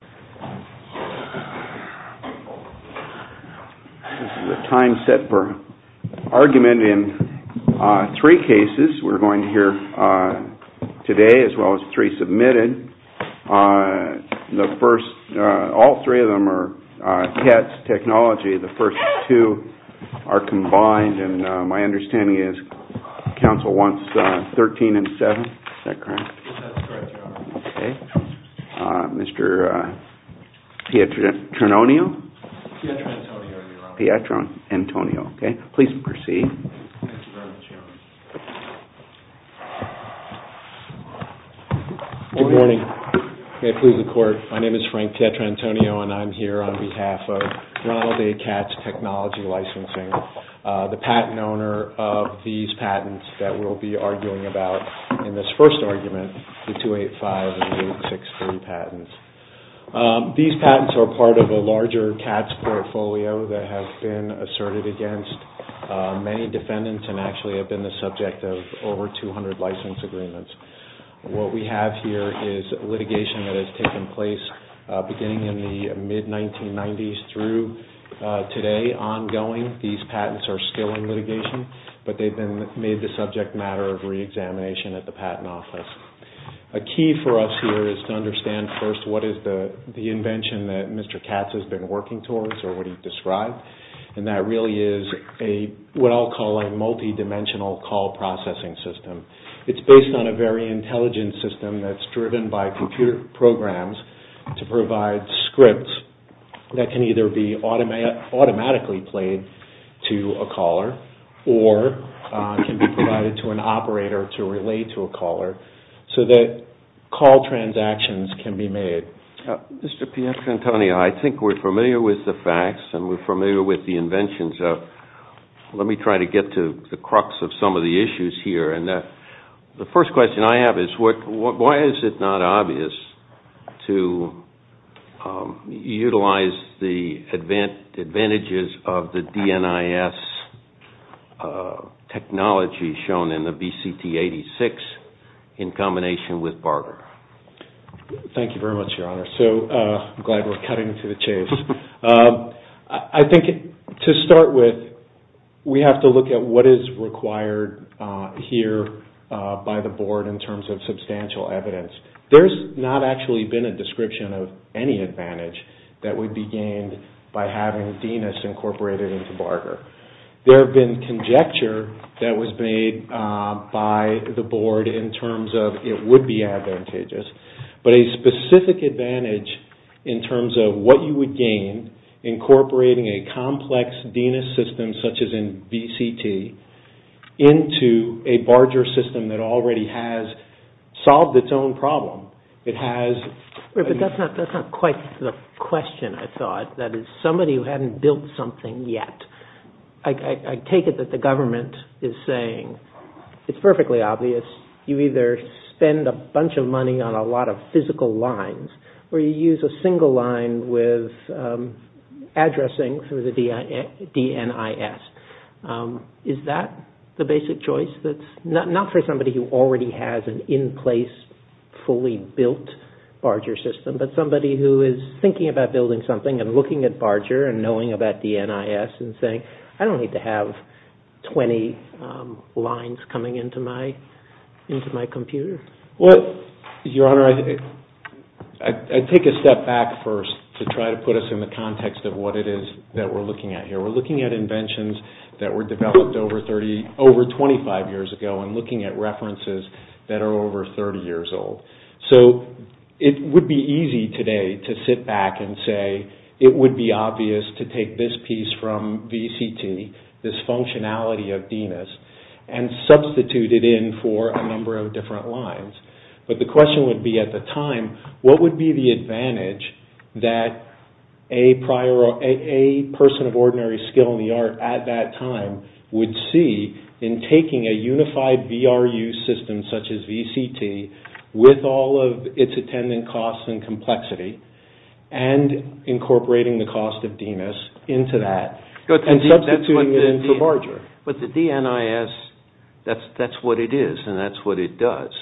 This is a time set for argument in three cases we're going to hear today as well as three submitted. The first, all three of them are Katz Technology. The first two are combined and my understanding is Council wants 13 and 7. Is that correct? Yes, that's correct, Your Honor. Okay. Mr. Pietrantonio? Pietrantonio, Your Honor. Pietrantonio, okay. Please proceed. Thank you very much, Your Honor. Good morning. May it please the Court, my name is Frank Pietrantonio and I'm here on behalf of Ronald A. Katz Technology Licensing. The patent owner of these patents that we'll be arguing about in this first argument, the 285 and the 863 patents. These patents are part of a larger Katz portfolio that has been asserted against many defendants and actually have been the subject of over 200 license agreements. What we have here is litigation that has taken place beginning in the mid-1990s through today ongoing. These patents are still in litigation, but they've been made the subject matter of re-examination at the Patent Office. A key for us here is to understand first what is the invention that Mr. Katz has been working towards or what he described. And that really is what I'll call a multi-dimensional call processing system. It's based on a very intelligent system that's driven by computer programs to provide scripts that can either be automatically played to a caller, or can be provided to an operator to relay to a caller so that call transactions can be made. Mr. Piazza-Antonio, I think we're familiar with the facts and we're familiar with the inventions. Let me try to get to the crux of some of the issues here. The first question I have is why is it not obvious to utilize the advantages of the DNIS technology shown in the BCT86 in combination with Barger? Thank you very much, Your Honor. I'm glad we're cutting to the chase. I think to start with, we have to look at what is required here by the Board in terms of substantial evidence. There's not actually been a description of any advantage that would be gained by having DNIS incorporated into Barger. There have been conjecture that was made by the Board in terms of it would be advantageous. But a specific advantage in terms of what you would gain incorporating a complex DNIS system such as in BCT into a Barger system that already has solved its own problem. But that's not quite the question, I thought. That is, somebody who hadn't built something yet. I take it that the government is saying it's perfectly obvious. You either spend a bunch of money on a lot of physical lines or you use a single line with addressing through the DNIS. Is that the basic choice? Not for somebody who already has an in-place, fully built Barger system, but somebody who is thinking about building something and looking at Barger and knowing about DNIS and saying, I don't need to have 20 lines coming into my computer. Your Honor, I take a step back first to try to put us in the context of what it is that we're looking at here. We're looking at inventions that were developed over 25 years ago and looking at references that are over 30 years old. So it would be easy today to sit back and say it would be obvious to take this piece from BCT, this functionality of DNIS, and substitute it in for a number of different lines. But the question would be at the time, what would be the advantage that a person of ordinary skill in the art at that time would see in taking a unified VRU system such as BCT with all of its attendant costs and complexity and incorporating the cost of DNIS into that and substituting it into Barger? But the DNIS, that's what it is and that's what it does.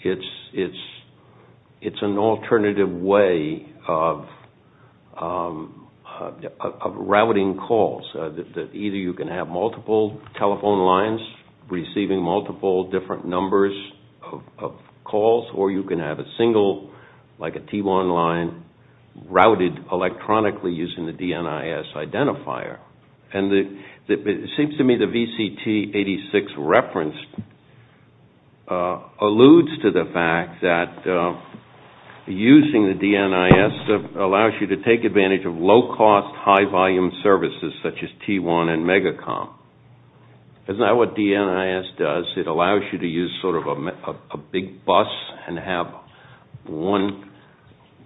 It's an alternative way of routing calls. Either you can have multiple telephone lines receiving multiple different numbers of calls, or you can have a single, like a T1 line, routed electronically using the DNIS identifier. And it seems to me the BCT86 reference alludes to the fact that using the DNIS allows you to take advantage of low-cost, high-volume services such as T1 and Megacom. That's not what DNIS does. It allows you to use sort of a big bus and have one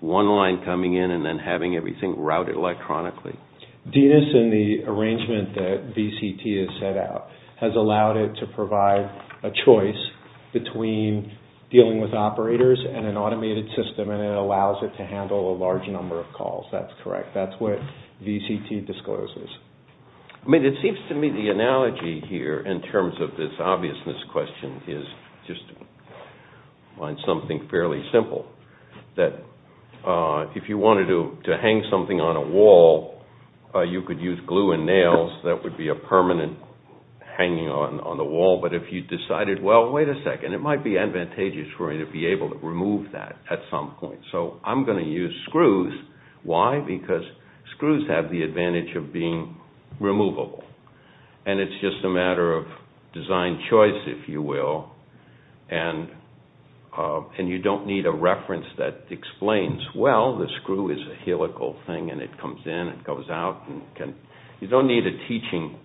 line coming in and then having everything routed electronically. DNIS and the arrangement that BCT has set out has allowed it to provide a choice between dealing with operators and an automated system and it allows it to handle a large number of calls. That's correct. That's what BCT discloses. I mean, it seems to me the analogy here in terms of this obviousness question is just to find something fairly simple. If you wanted to hang something on a wall, you could use glue and nails. That would be a permanent hanging on the wall. But if you decided, well, wait a second, it might be advantageous for me to be able to remove that at some point. So I'm going to use screws. Why? Because screws have the advantage of being removable. And it's just a matter of design choice, if you will. And you don't need a reference that explains, well, the screw is a helical thing and it comes in and goes out. You don't need a teaching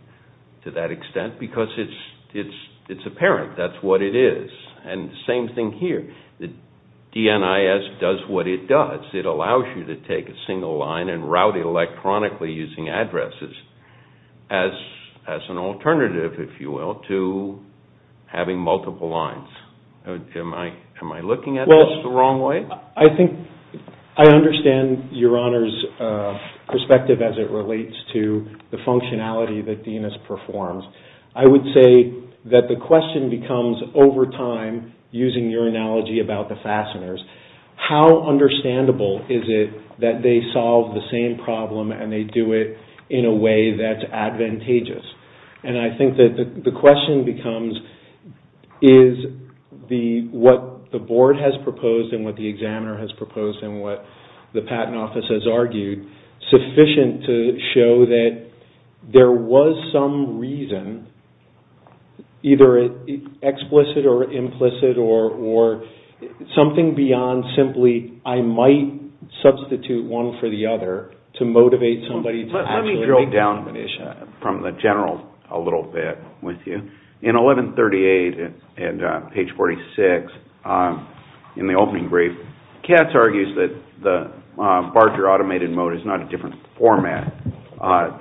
to that extent because it's apparent. That's what it is. And the same thing here. DNIS does what it does. It allows you to take a single line and route it electronically using addresses as an alternative, if you will, to having multiple lines. Am I looking at this the wrong way? I think I understand Your Honor's perspective as it relates to the functionality that DNIS performs. I would say that the question becomes over time, using your analogy about the fasteners, how understandable is it that they solve the same problem and they do it in a way that's advantageous? And I think that the question becomes, is what the board has proposed and what the examiner has proposed and what the patent office has argued sufficient to show that there was some reason, either explicit or implicit, or something beyond simply I might substitute one for the other to motivate somebody to actually make the definition. Let me drill down from the general a little bit with you. In 1138 and page 46 in the opening brief, Katz argues that the Barger automated mode is not a different format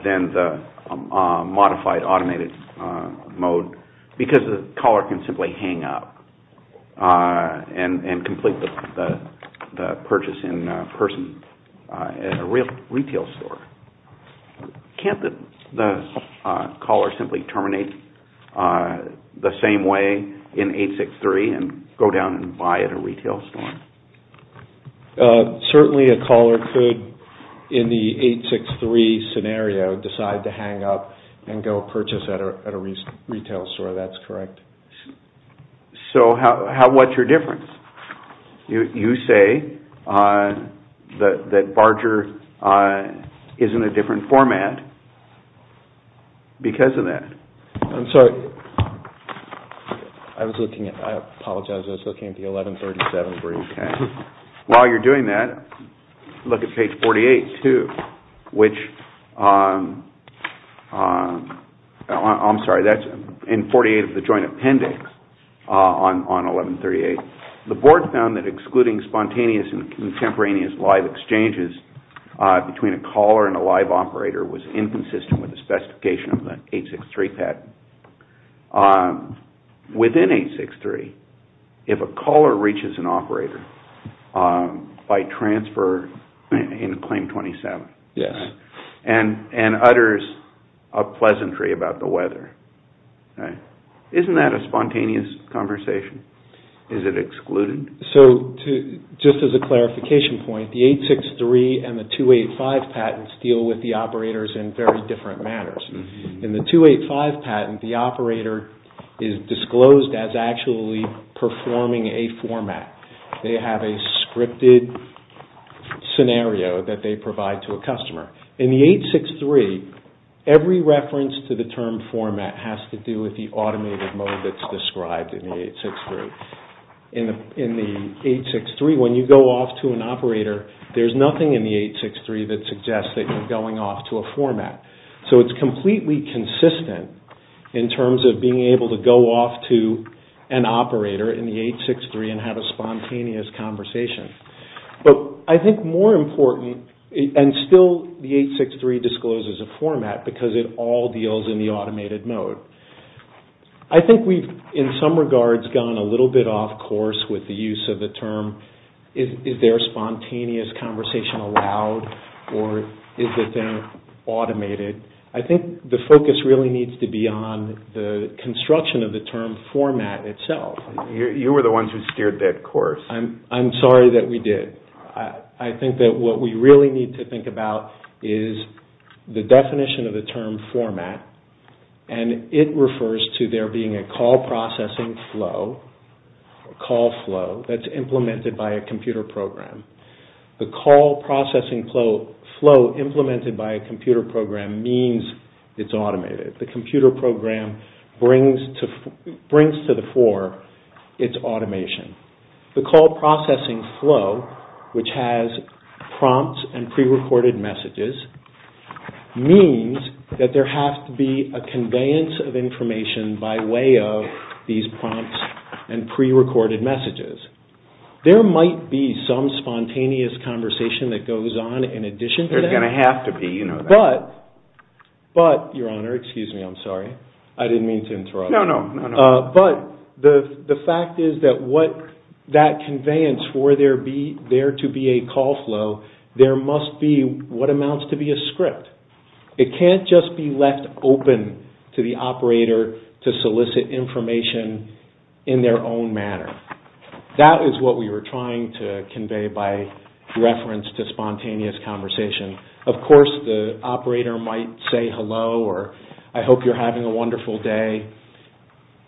than the modified automated mode because the caller can simply hang up and complete the purchase in person at a retail store. Can't the caller simply terminate the same way in 863 and go down and buy at a retail store? Certainly a caller could, in the 863 scenario, decide to hang up and go purchase at a retail store. That's correct. So what's your difference? You say that Barger is in a different format because of that. I'm sorry. I apologize. I was looking at the 1137 brief. While you're doing that, look at page 48, too. I'm sorry, that's in 48 of the joint appendix on 1138. The board found that excluding spontaneous and contemporaneous live exchanges between a caller and a live operator was inconsistent with the specification of the 863 patent. Within 863, if a caller reaches an operator by transfer in claim 27 and utters a pleasantry about the weather, isn't that a spontaneous conversation? Is it excluded? Just as a clarification point, the 863 and the 285 patents deal with the operators in very different manners. In the 285 patent, the operator is disclosed as actually performing a format. They have a scripted scenario that they provide to a customer. In the 863, every reference to the term format has to do with the automated mode that's described in the 863. In the 863, when you go off to an operator, there's nothing in the 863 that suggests that you're going off to a format. So it's completely consistent in terms of being able to go off to an operator in the 863 and have a spontaneous conversation. But I think more important, and still the 863 discloses a format because it all deals in the automated mode. I think we've, in some regards, gone a little bit off course with the use of the term. Is there a spontaneous conversation allowed or is it then automated? I think the focus really needs to be on the construction of the term format itself. You were the ones who steered that course. I'm sorry that we did. I think that what we really need to think about is the definition of the term format and it refers to there being a call processing flow, a call flow, that's implemented by a computer program. The call processing flow implemented by a computer program means it's automated. The computer program brings to the fore its automation. The call processing flow, which has prompts and prerecorded messages, means that there has to be a conveyance of information by way of these prompts and prerecorded messages. There might be some spontaneous conversation that goes on in addition to that. There's going to have to be. But, Your Honor, excuse me, I'm sorry. I didn't mean to interrupt. No, no. But the fact is that that conveyance for there to be a call flow, there must be what amounts to be a script. It can't just be left open to the operator to solicit information in their own manner. That is what we were trying to convey by reference to spontaneous conversation. Of course, the operator might say hello or I hope you're having a wonderful day.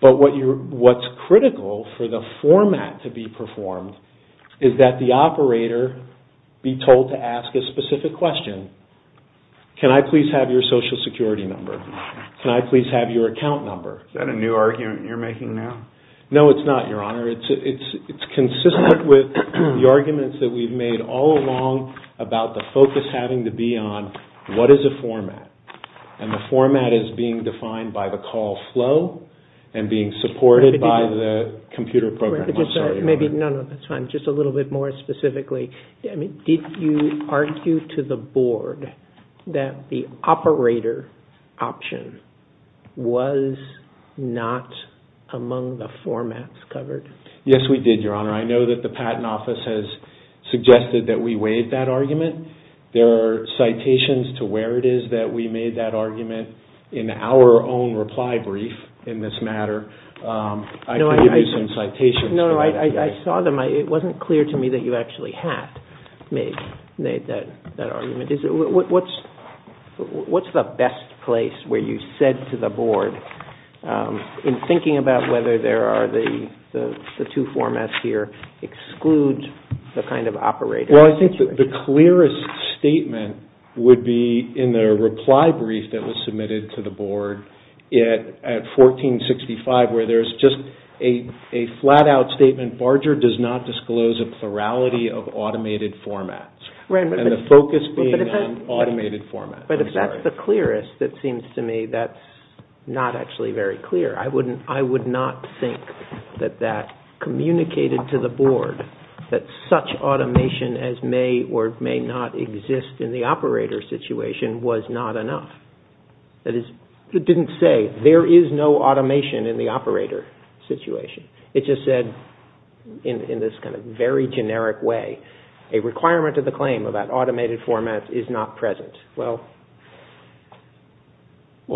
But what's critical for the format to be performed is that the operator be told to ask a specific question. Can I please have your social security number? Can I please have your account number? Is that a new argument you're making now? No, it's not, Your Honor. It's consistent with the arguments that we've made all along about the focus having to be on what is a format. And the format is being defined by the call flow and being supported by the computer program. No, no, that's fine. Just a little bit more specifically. Did you argue to the Board that the operator option was not among the formats covered? Yes, we did, Your Honor. I know that the Patent Office has suggested that we waive that argument. There are citations to where it is that we made that argument in our own reply brief in this matter. I can give you some citations. No, no, I saw them. It wasn't clear to me that you actually had made that argument. What's the best place where you said to the Board, in thinking about whether the two formats here exclude the kind of operator? Well, I think the clearest statement would be in the reply brief that was submitted to the Board at 1465, where there's just a flat-out statement, Barger does not disclose a plurality of automated formats, and the focus being on automated formats. But if that's the clearest, it seems to me that's not actually very clear. I would not think that that communicated to the Board that such automation as may or may not exist in the operator situation was not enough. That is, it didn't say there is no automation in the operator situation. It just said, in this kind of very generic way, a requirement of the claim about automated formats is not present. Well,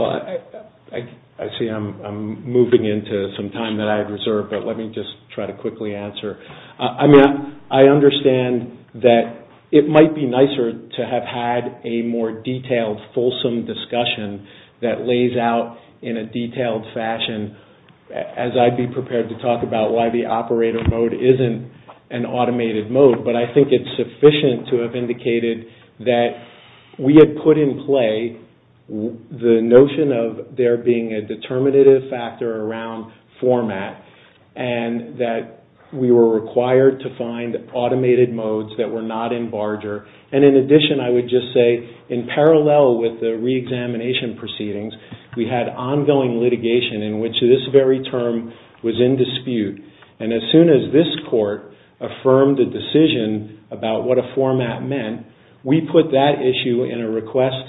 I see I'm moving into some time that I have reserved, but let me just try to quickly answer. I understand that it might be nicer to have had a more detailed, fulsome discussion that lays out in a detailed fashion, as I'd be prepared to talk about why the operator mode isn't an automated mode, but I think it's sufficient to have indicated that we had put in play the notion of there being a determinative factor around format, and that we were required to find automated modes that were not in Barger. And in addition, I would just say, in parallel with the reexamination proceedings, we had ongoing litigation in which this very term was in dispute, and as soon as this Court affirmed a decision about what a format meant, we put that issue in a request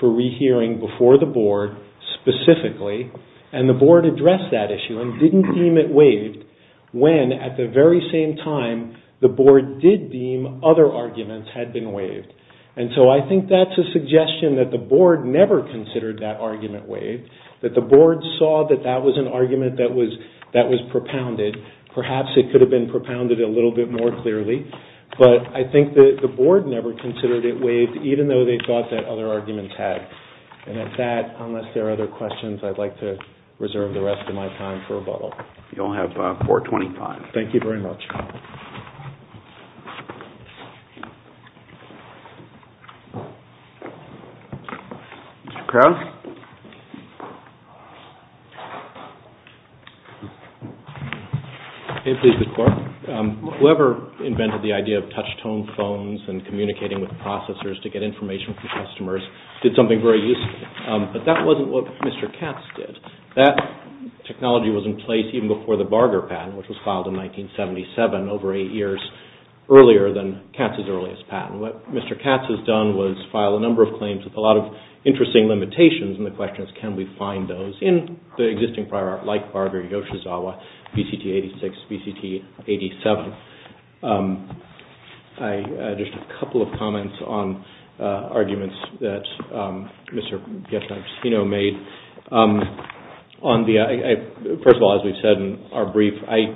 for rehearing before the Board specifically, and the Board addressed that issue and didn't deem it waived when, at the very same time, the Board did deem other arguments had been waived. And so I think that's a suggestion that the Board never considered that argument waived, that the Board saw that that was an argument that was propounded. Perhaps it could have been propounded a little bit more clearly, but I think that the Board never considered it waived, even though they thought that other arguments had. And with that, unless there are other questions, I'd like to reserve the rest of my time for rebuttal. You'll have 425. Thank you very much. Mr. Krauss? If it is the Court, whoever invented the idea of touch-tone phones and communicating with processors to get information from customers did something very useful, but that wasn't what Mr. Katz did. That technology was in place even before the Barger patent, which was filed in 1977, over eight years earlier than Katz's earliest patent. What Mr. Katz has done was file a number of claims with a lot of interesting limitations, and the question is, can we find those in the existing prior art, like Barger, Yoshizawa, BCT-86, BCT-87? Just a couple of comments on arguments that Mr. Pietrangelo made. First of all, as we've said in our brief, I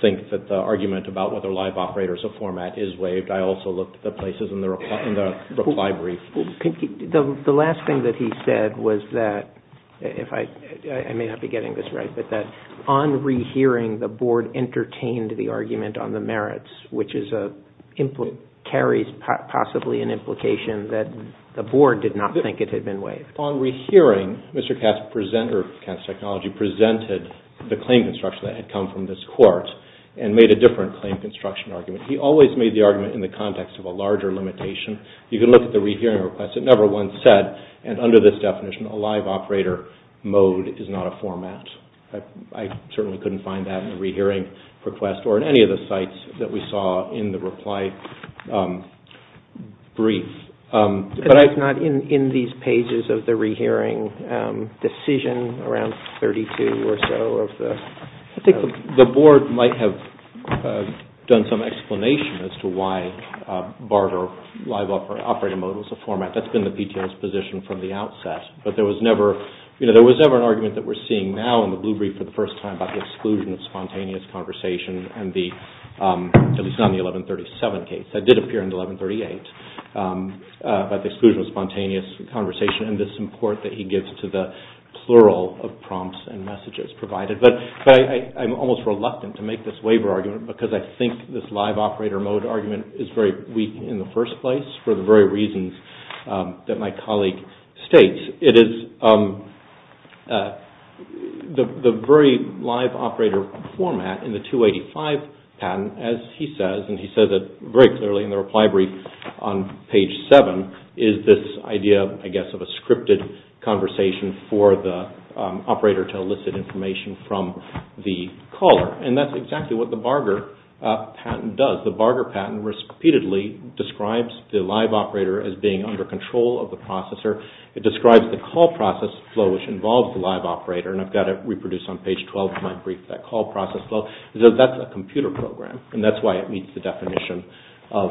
think that the argument about whether live operators of format is waived, I also looked at the places in the reply brief. The last thing that he said was that, I may not be getting this right, but that on rehearing, the Board entertained the argument on the merits, which carries possibly an implication that the Board did not think it had been waived. On rehearing, Mr. Katz's technology presented the claim construction that had come from this Court and made a different claim construction argument. He always made the argument in the context of a larger limitation. You can look at the rehearing request. It never once said, and under this definition, a live operator mode is not a format. I certainly couldn't find that in the rehearing request or in any of the sites that we saw in the reply brief. It's not in these pages of the rehearing decision around 32 or so of the… I think the Board might have done some explanation as to why BART or live operator mode was a format. That's been the PTO's position from the outset, but there was never an argument that we're seeing now in the blue brief for the first time about the exclusion of spontaneous conversation, at least not in the 1137 case. That did appear in the 1138, about the exclusion of spontaneous conversation and this import that he gives to the plural of prompts and messages provided. I'm almost reluctant to make this waiver argument because I think this live operator mode argument is very weak in the first place for the very reasons that my colleague states. The very live operator format in the 285 patent, as he says, and he says it very clearly in the reply brief on page 7, is this idea, I guess, of a scripted conversation for the operator to elicit information from the caller and that's exactly what the Barger patent does. The Barger patent repeatedly describes the live operator as being under control of the processor. It describes the call process flow which involves the live operator and I've got it reproduced on page 12 of my brief, that call process flow. That's a computer program and that's why it meets the definition of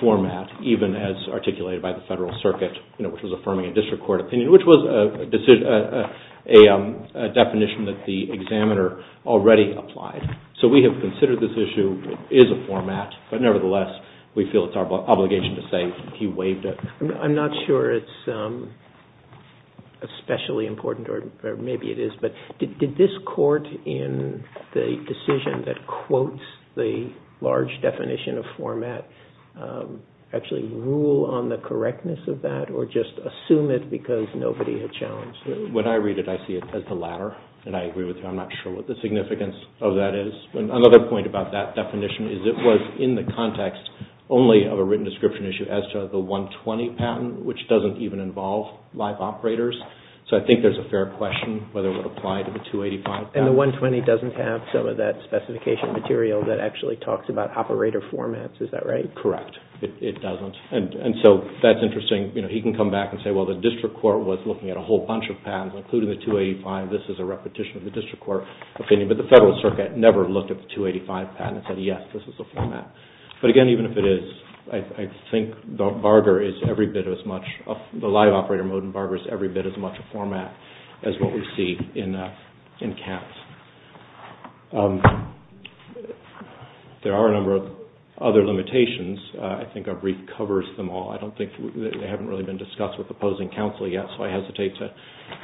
format even as articulated by the Federal Circuit, which was affirming a district court opinion, which was a definition that the examiner already applied. So we have considered this issue, it is a format, but nevertheless we feel it's our obligation to say he waived it. I'm not sure it's especially important or maybe it is, but did this court in the decision that quotes the large definition of format actually rule on the correctness of that or just assume it because nobody had challenged it? When I read it, I see it as the latter and I agree with you. I'm not sure what the significance of that is. It's only of a written description issue as to the 120 patent, which doesn't even involve live operators. So I think there's a fair question whether it would apply to the 285 patent. And the 120 doesn't have some of that specification material that actually talks about operator formats, is that right? Correct. It doesn't. And so that's interesting. He can come back and say, well, the district court was looking at a whole bunch of patents, including the 285. This is a repetition of the district court opinion, but the federal circuit never looked at the 285 patent and said, yes, this is the format. But again, even if it is, I think the live operator mode in Barger is every bit as much a format as what we see in Katz. There are a number of other limitations. I think our brief covers them all. I don't think they haven't really been discussed with opposing counsel yet, so I hesitate to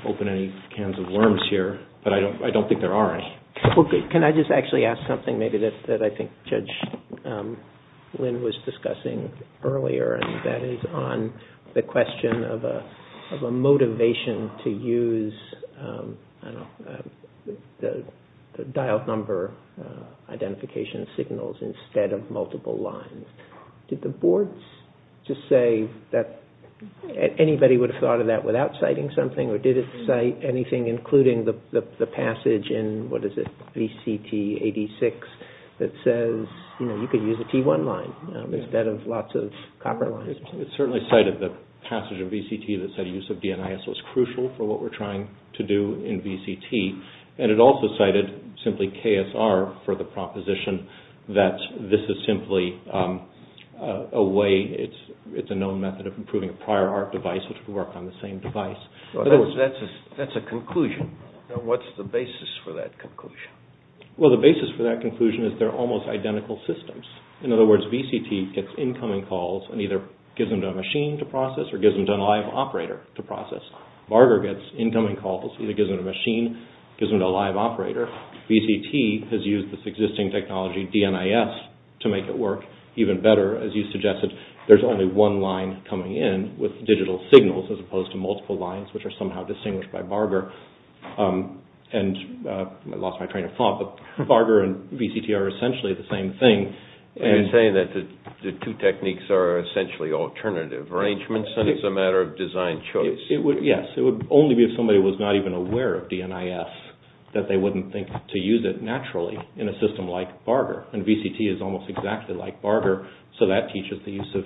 open any cans of worms here, but I don't think there are any. Can I just actually ask something maybe that I think Judge Lynn was discussing earlier, and that is on the question of a motivation to use the dialed number identification signals instead of multiple lines. Did the boards just say that anybody would have thought of that without citing something, or did it cite anything, including the passage in, what is it, VCT 86, that says you could use a T1 line instead of lots of copper lines? It certainly cited the passage of VCT that said use of DNIS was crucial for what we're trying to do in VCT, and it also cited simply KSR for the proposition that this is simply a way, it's a known method of improving a prior art device which would work on the same device. That's a conclusion. Now, what's the basis for that conclusion? Well, the basis for that conclusion is they're almost identical systems. In other words, VCT gets incoming calls and either gives them to a machine to process or gives them to a live operator to process. Varga gets incoming calls, either gives them to a machine, gives them to a live operator. VCT has used this existing technology, DNIS, to make it work even better, as you suggested, there's only one line coming in with digital signals as opposed to multiple lines which are somehow distinguished by Varga, and I lost my train of thought, but Varga and VCT are essentially the same thing. Are you saying that the two techniques are essentially alternative arrangements and it's a matter of design choice? Yes, it would only be if somebody was not even aware of DNIS that they wouldn't think to use it naturally in a system like Varga, and VCT is almost exactly like Varga, so that teaches the use of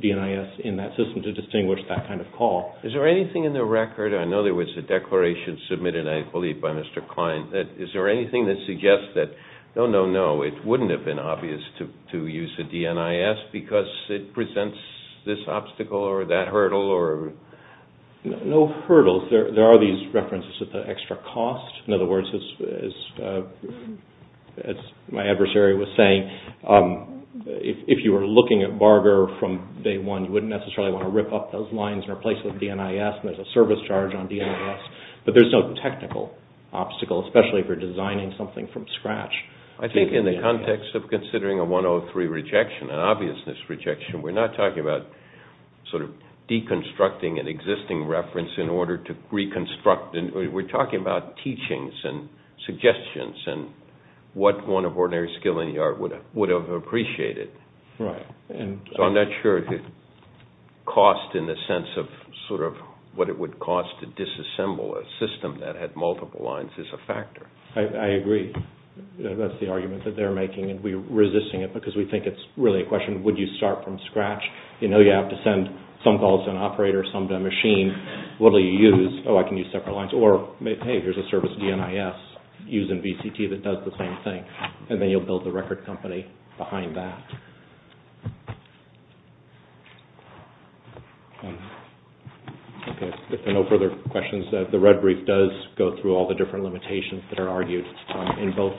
DNIS in that system to distinguish that kind of call. Is there anything in the record, I know there was a declaration submitted, I believe, by Mr. Klein, is there anything that suggests that, no, no, no, it wouldn't have been obvious to use a DNIS because it presents this obstacle or that hurdle? No hurdles. There are these references to the extra cost. In other words, as my adversary was saying, if you were looking at Varga from day one, you wouldn't necessarily want to rip up those lines and replace them with DNIS, and there's a service charge on DNIS, but there's no technical obstacle, especially if you're designing something from scratch. I think in the context of considering a 103 rejection, an obviousness rejection, we're not talking about sort of deconstructing an existing reference in order to reconstruct, and we're talking about teachings and suggestions and what one of ordinary skill in the art would have appreciated. So I'm not sure the cost in the sense of sort of what it would cost to disassemble a system that had multiple lines is a factor. I agree. That's the argument that they're making, and we're resisting it because we think it's really a question, would you start from scratch? You know you have to send some calls to an operator, some to a machine. What will you use? Oh, I can use separate lines. Or, hey, here's a service DNIS using VCT that does the same thing, and then you'll build the record company behind that. If there are no further questions, the red brief does go through all the different limitations that are argued in both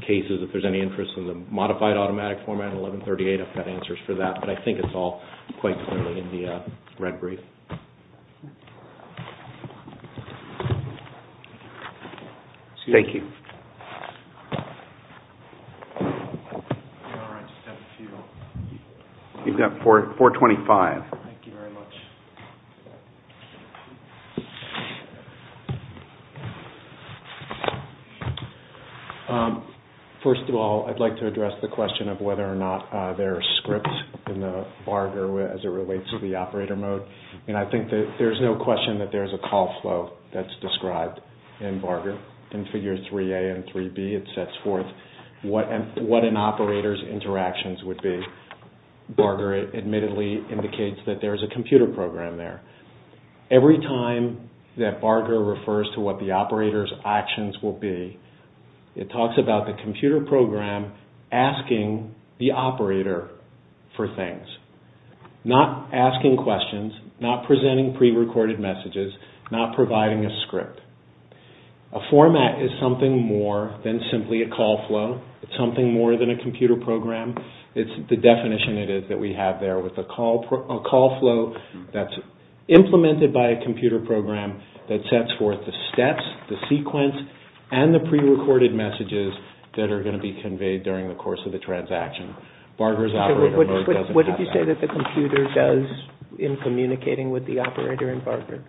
cases. If there's any interest in the modified automatic format, 1138, I've got answers for that, but I think it's all quite clearly in the red brief. Thank you. You've got 425. Thank you very much. First of all, I'd like to address the question of whether or not there are scripts in the BARGR as it relates to the operator mode. And I think that there's no question that there's a call flow that's described in BARGR. In figures 3A and 3B, it sets forth what an operator's interactions would be. BARGR admittedly indicates that there's a computer program there, Every time that BARGR refers to what the operator's actions will be, it talks about the computer program asking the operator for things, not asking questions, not presenting prerecorded messages, not providing a script. A format is something more than simply a call flow. It's something more than a computer program. It's the definition that we have there with a call flow that's implemented by a computer program that sets forth the steps, the sequence, and the prerecorded messages that are going to be conveyed during the course of the transaction. BARGR's operator mode doesn't have that. What did you say that the computer does in communicating with the operator in BARGR?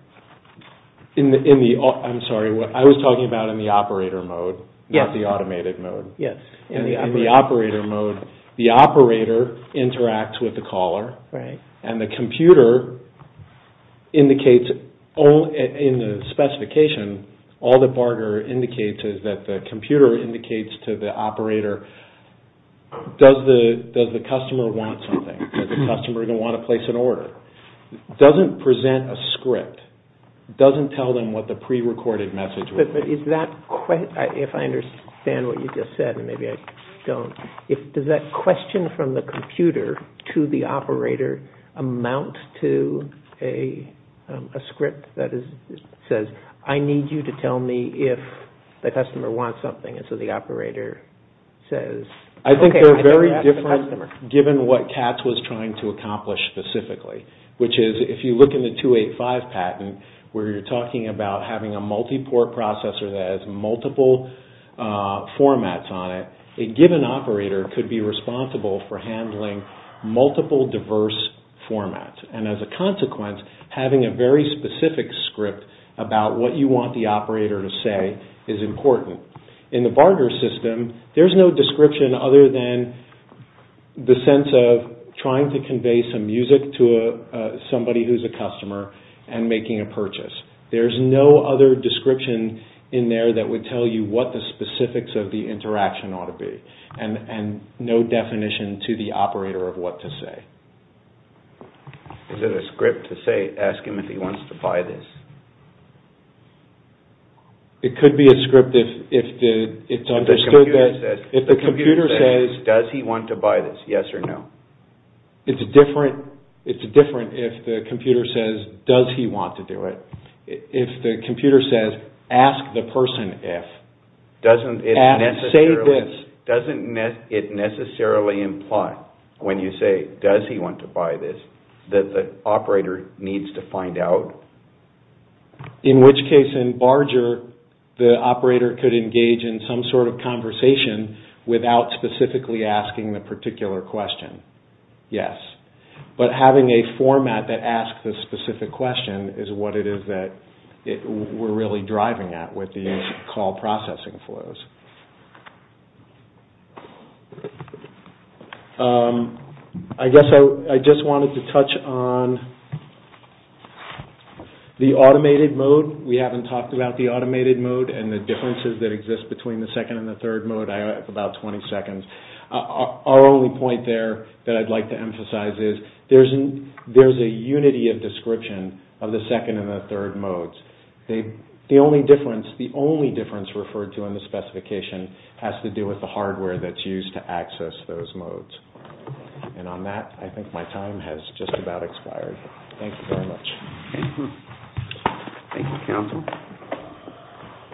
I'm sorry, I was talking about in the operator mode, not the automated mode. Yes. In the operator mode, the operator interacts with the caller, and the computer indicates in the specification, all that BARGR indicates is that the computer indicates to the operator, does the customer want something? Does the customer want to place an order? It doesn't present a script. It doesn't tell them what the prerecorded message would be. If I understand what you just said, and maybe I don't, does that question from the computer to the operator amount to a script that says, I need you to tell me if the customer wants something, and so the operator says, I think they're very different given what CATS was trying to accomplish specifically, which is if you look in the 285 patent, where you're talking about having a multi-port processor that has multiple formats on it, a given operator could be responsible for handling multiple diverse formats, and as a consequence, having a very specific script about what you want the operator to say is important. In the BARGR system, there's no description other than the sense of trying to convey some music to somebody who's a customer and making a purchase. There's no other description in there that would tell you what the specifics of the interaction ought to be, and no definition to the operator of what to say. Is it a script to ask him if he wants to buy this? It could be a script if it's understood that if the computer says, does he want to buy this, yes or no? It's different if the computer says, does he want to do it? If the computer says, ask the person if. Doesn't it necessarily imply when you say, does he want to buy this, that the operator needs to find out? In which case, in BARGR, the operator could engage in some sort of conversation without specifically asking the particular question, yes. But having a format that asks the specific question is what it is that we're really driving at with these call processing flows. I guess I just wanted to touch on the automated mode. We haven't talked about the automated mode and the differences that exist between the second and the third mode. I have about 20 seconds. Our only point there that I'd like to emphasize is there's a unity of description of the second and the third modes. The only difference referred to in the specification has to do with the hardware that's used to access those modes. And on that, I think my time has just about expired. Thank you very much. Thank you, counsel.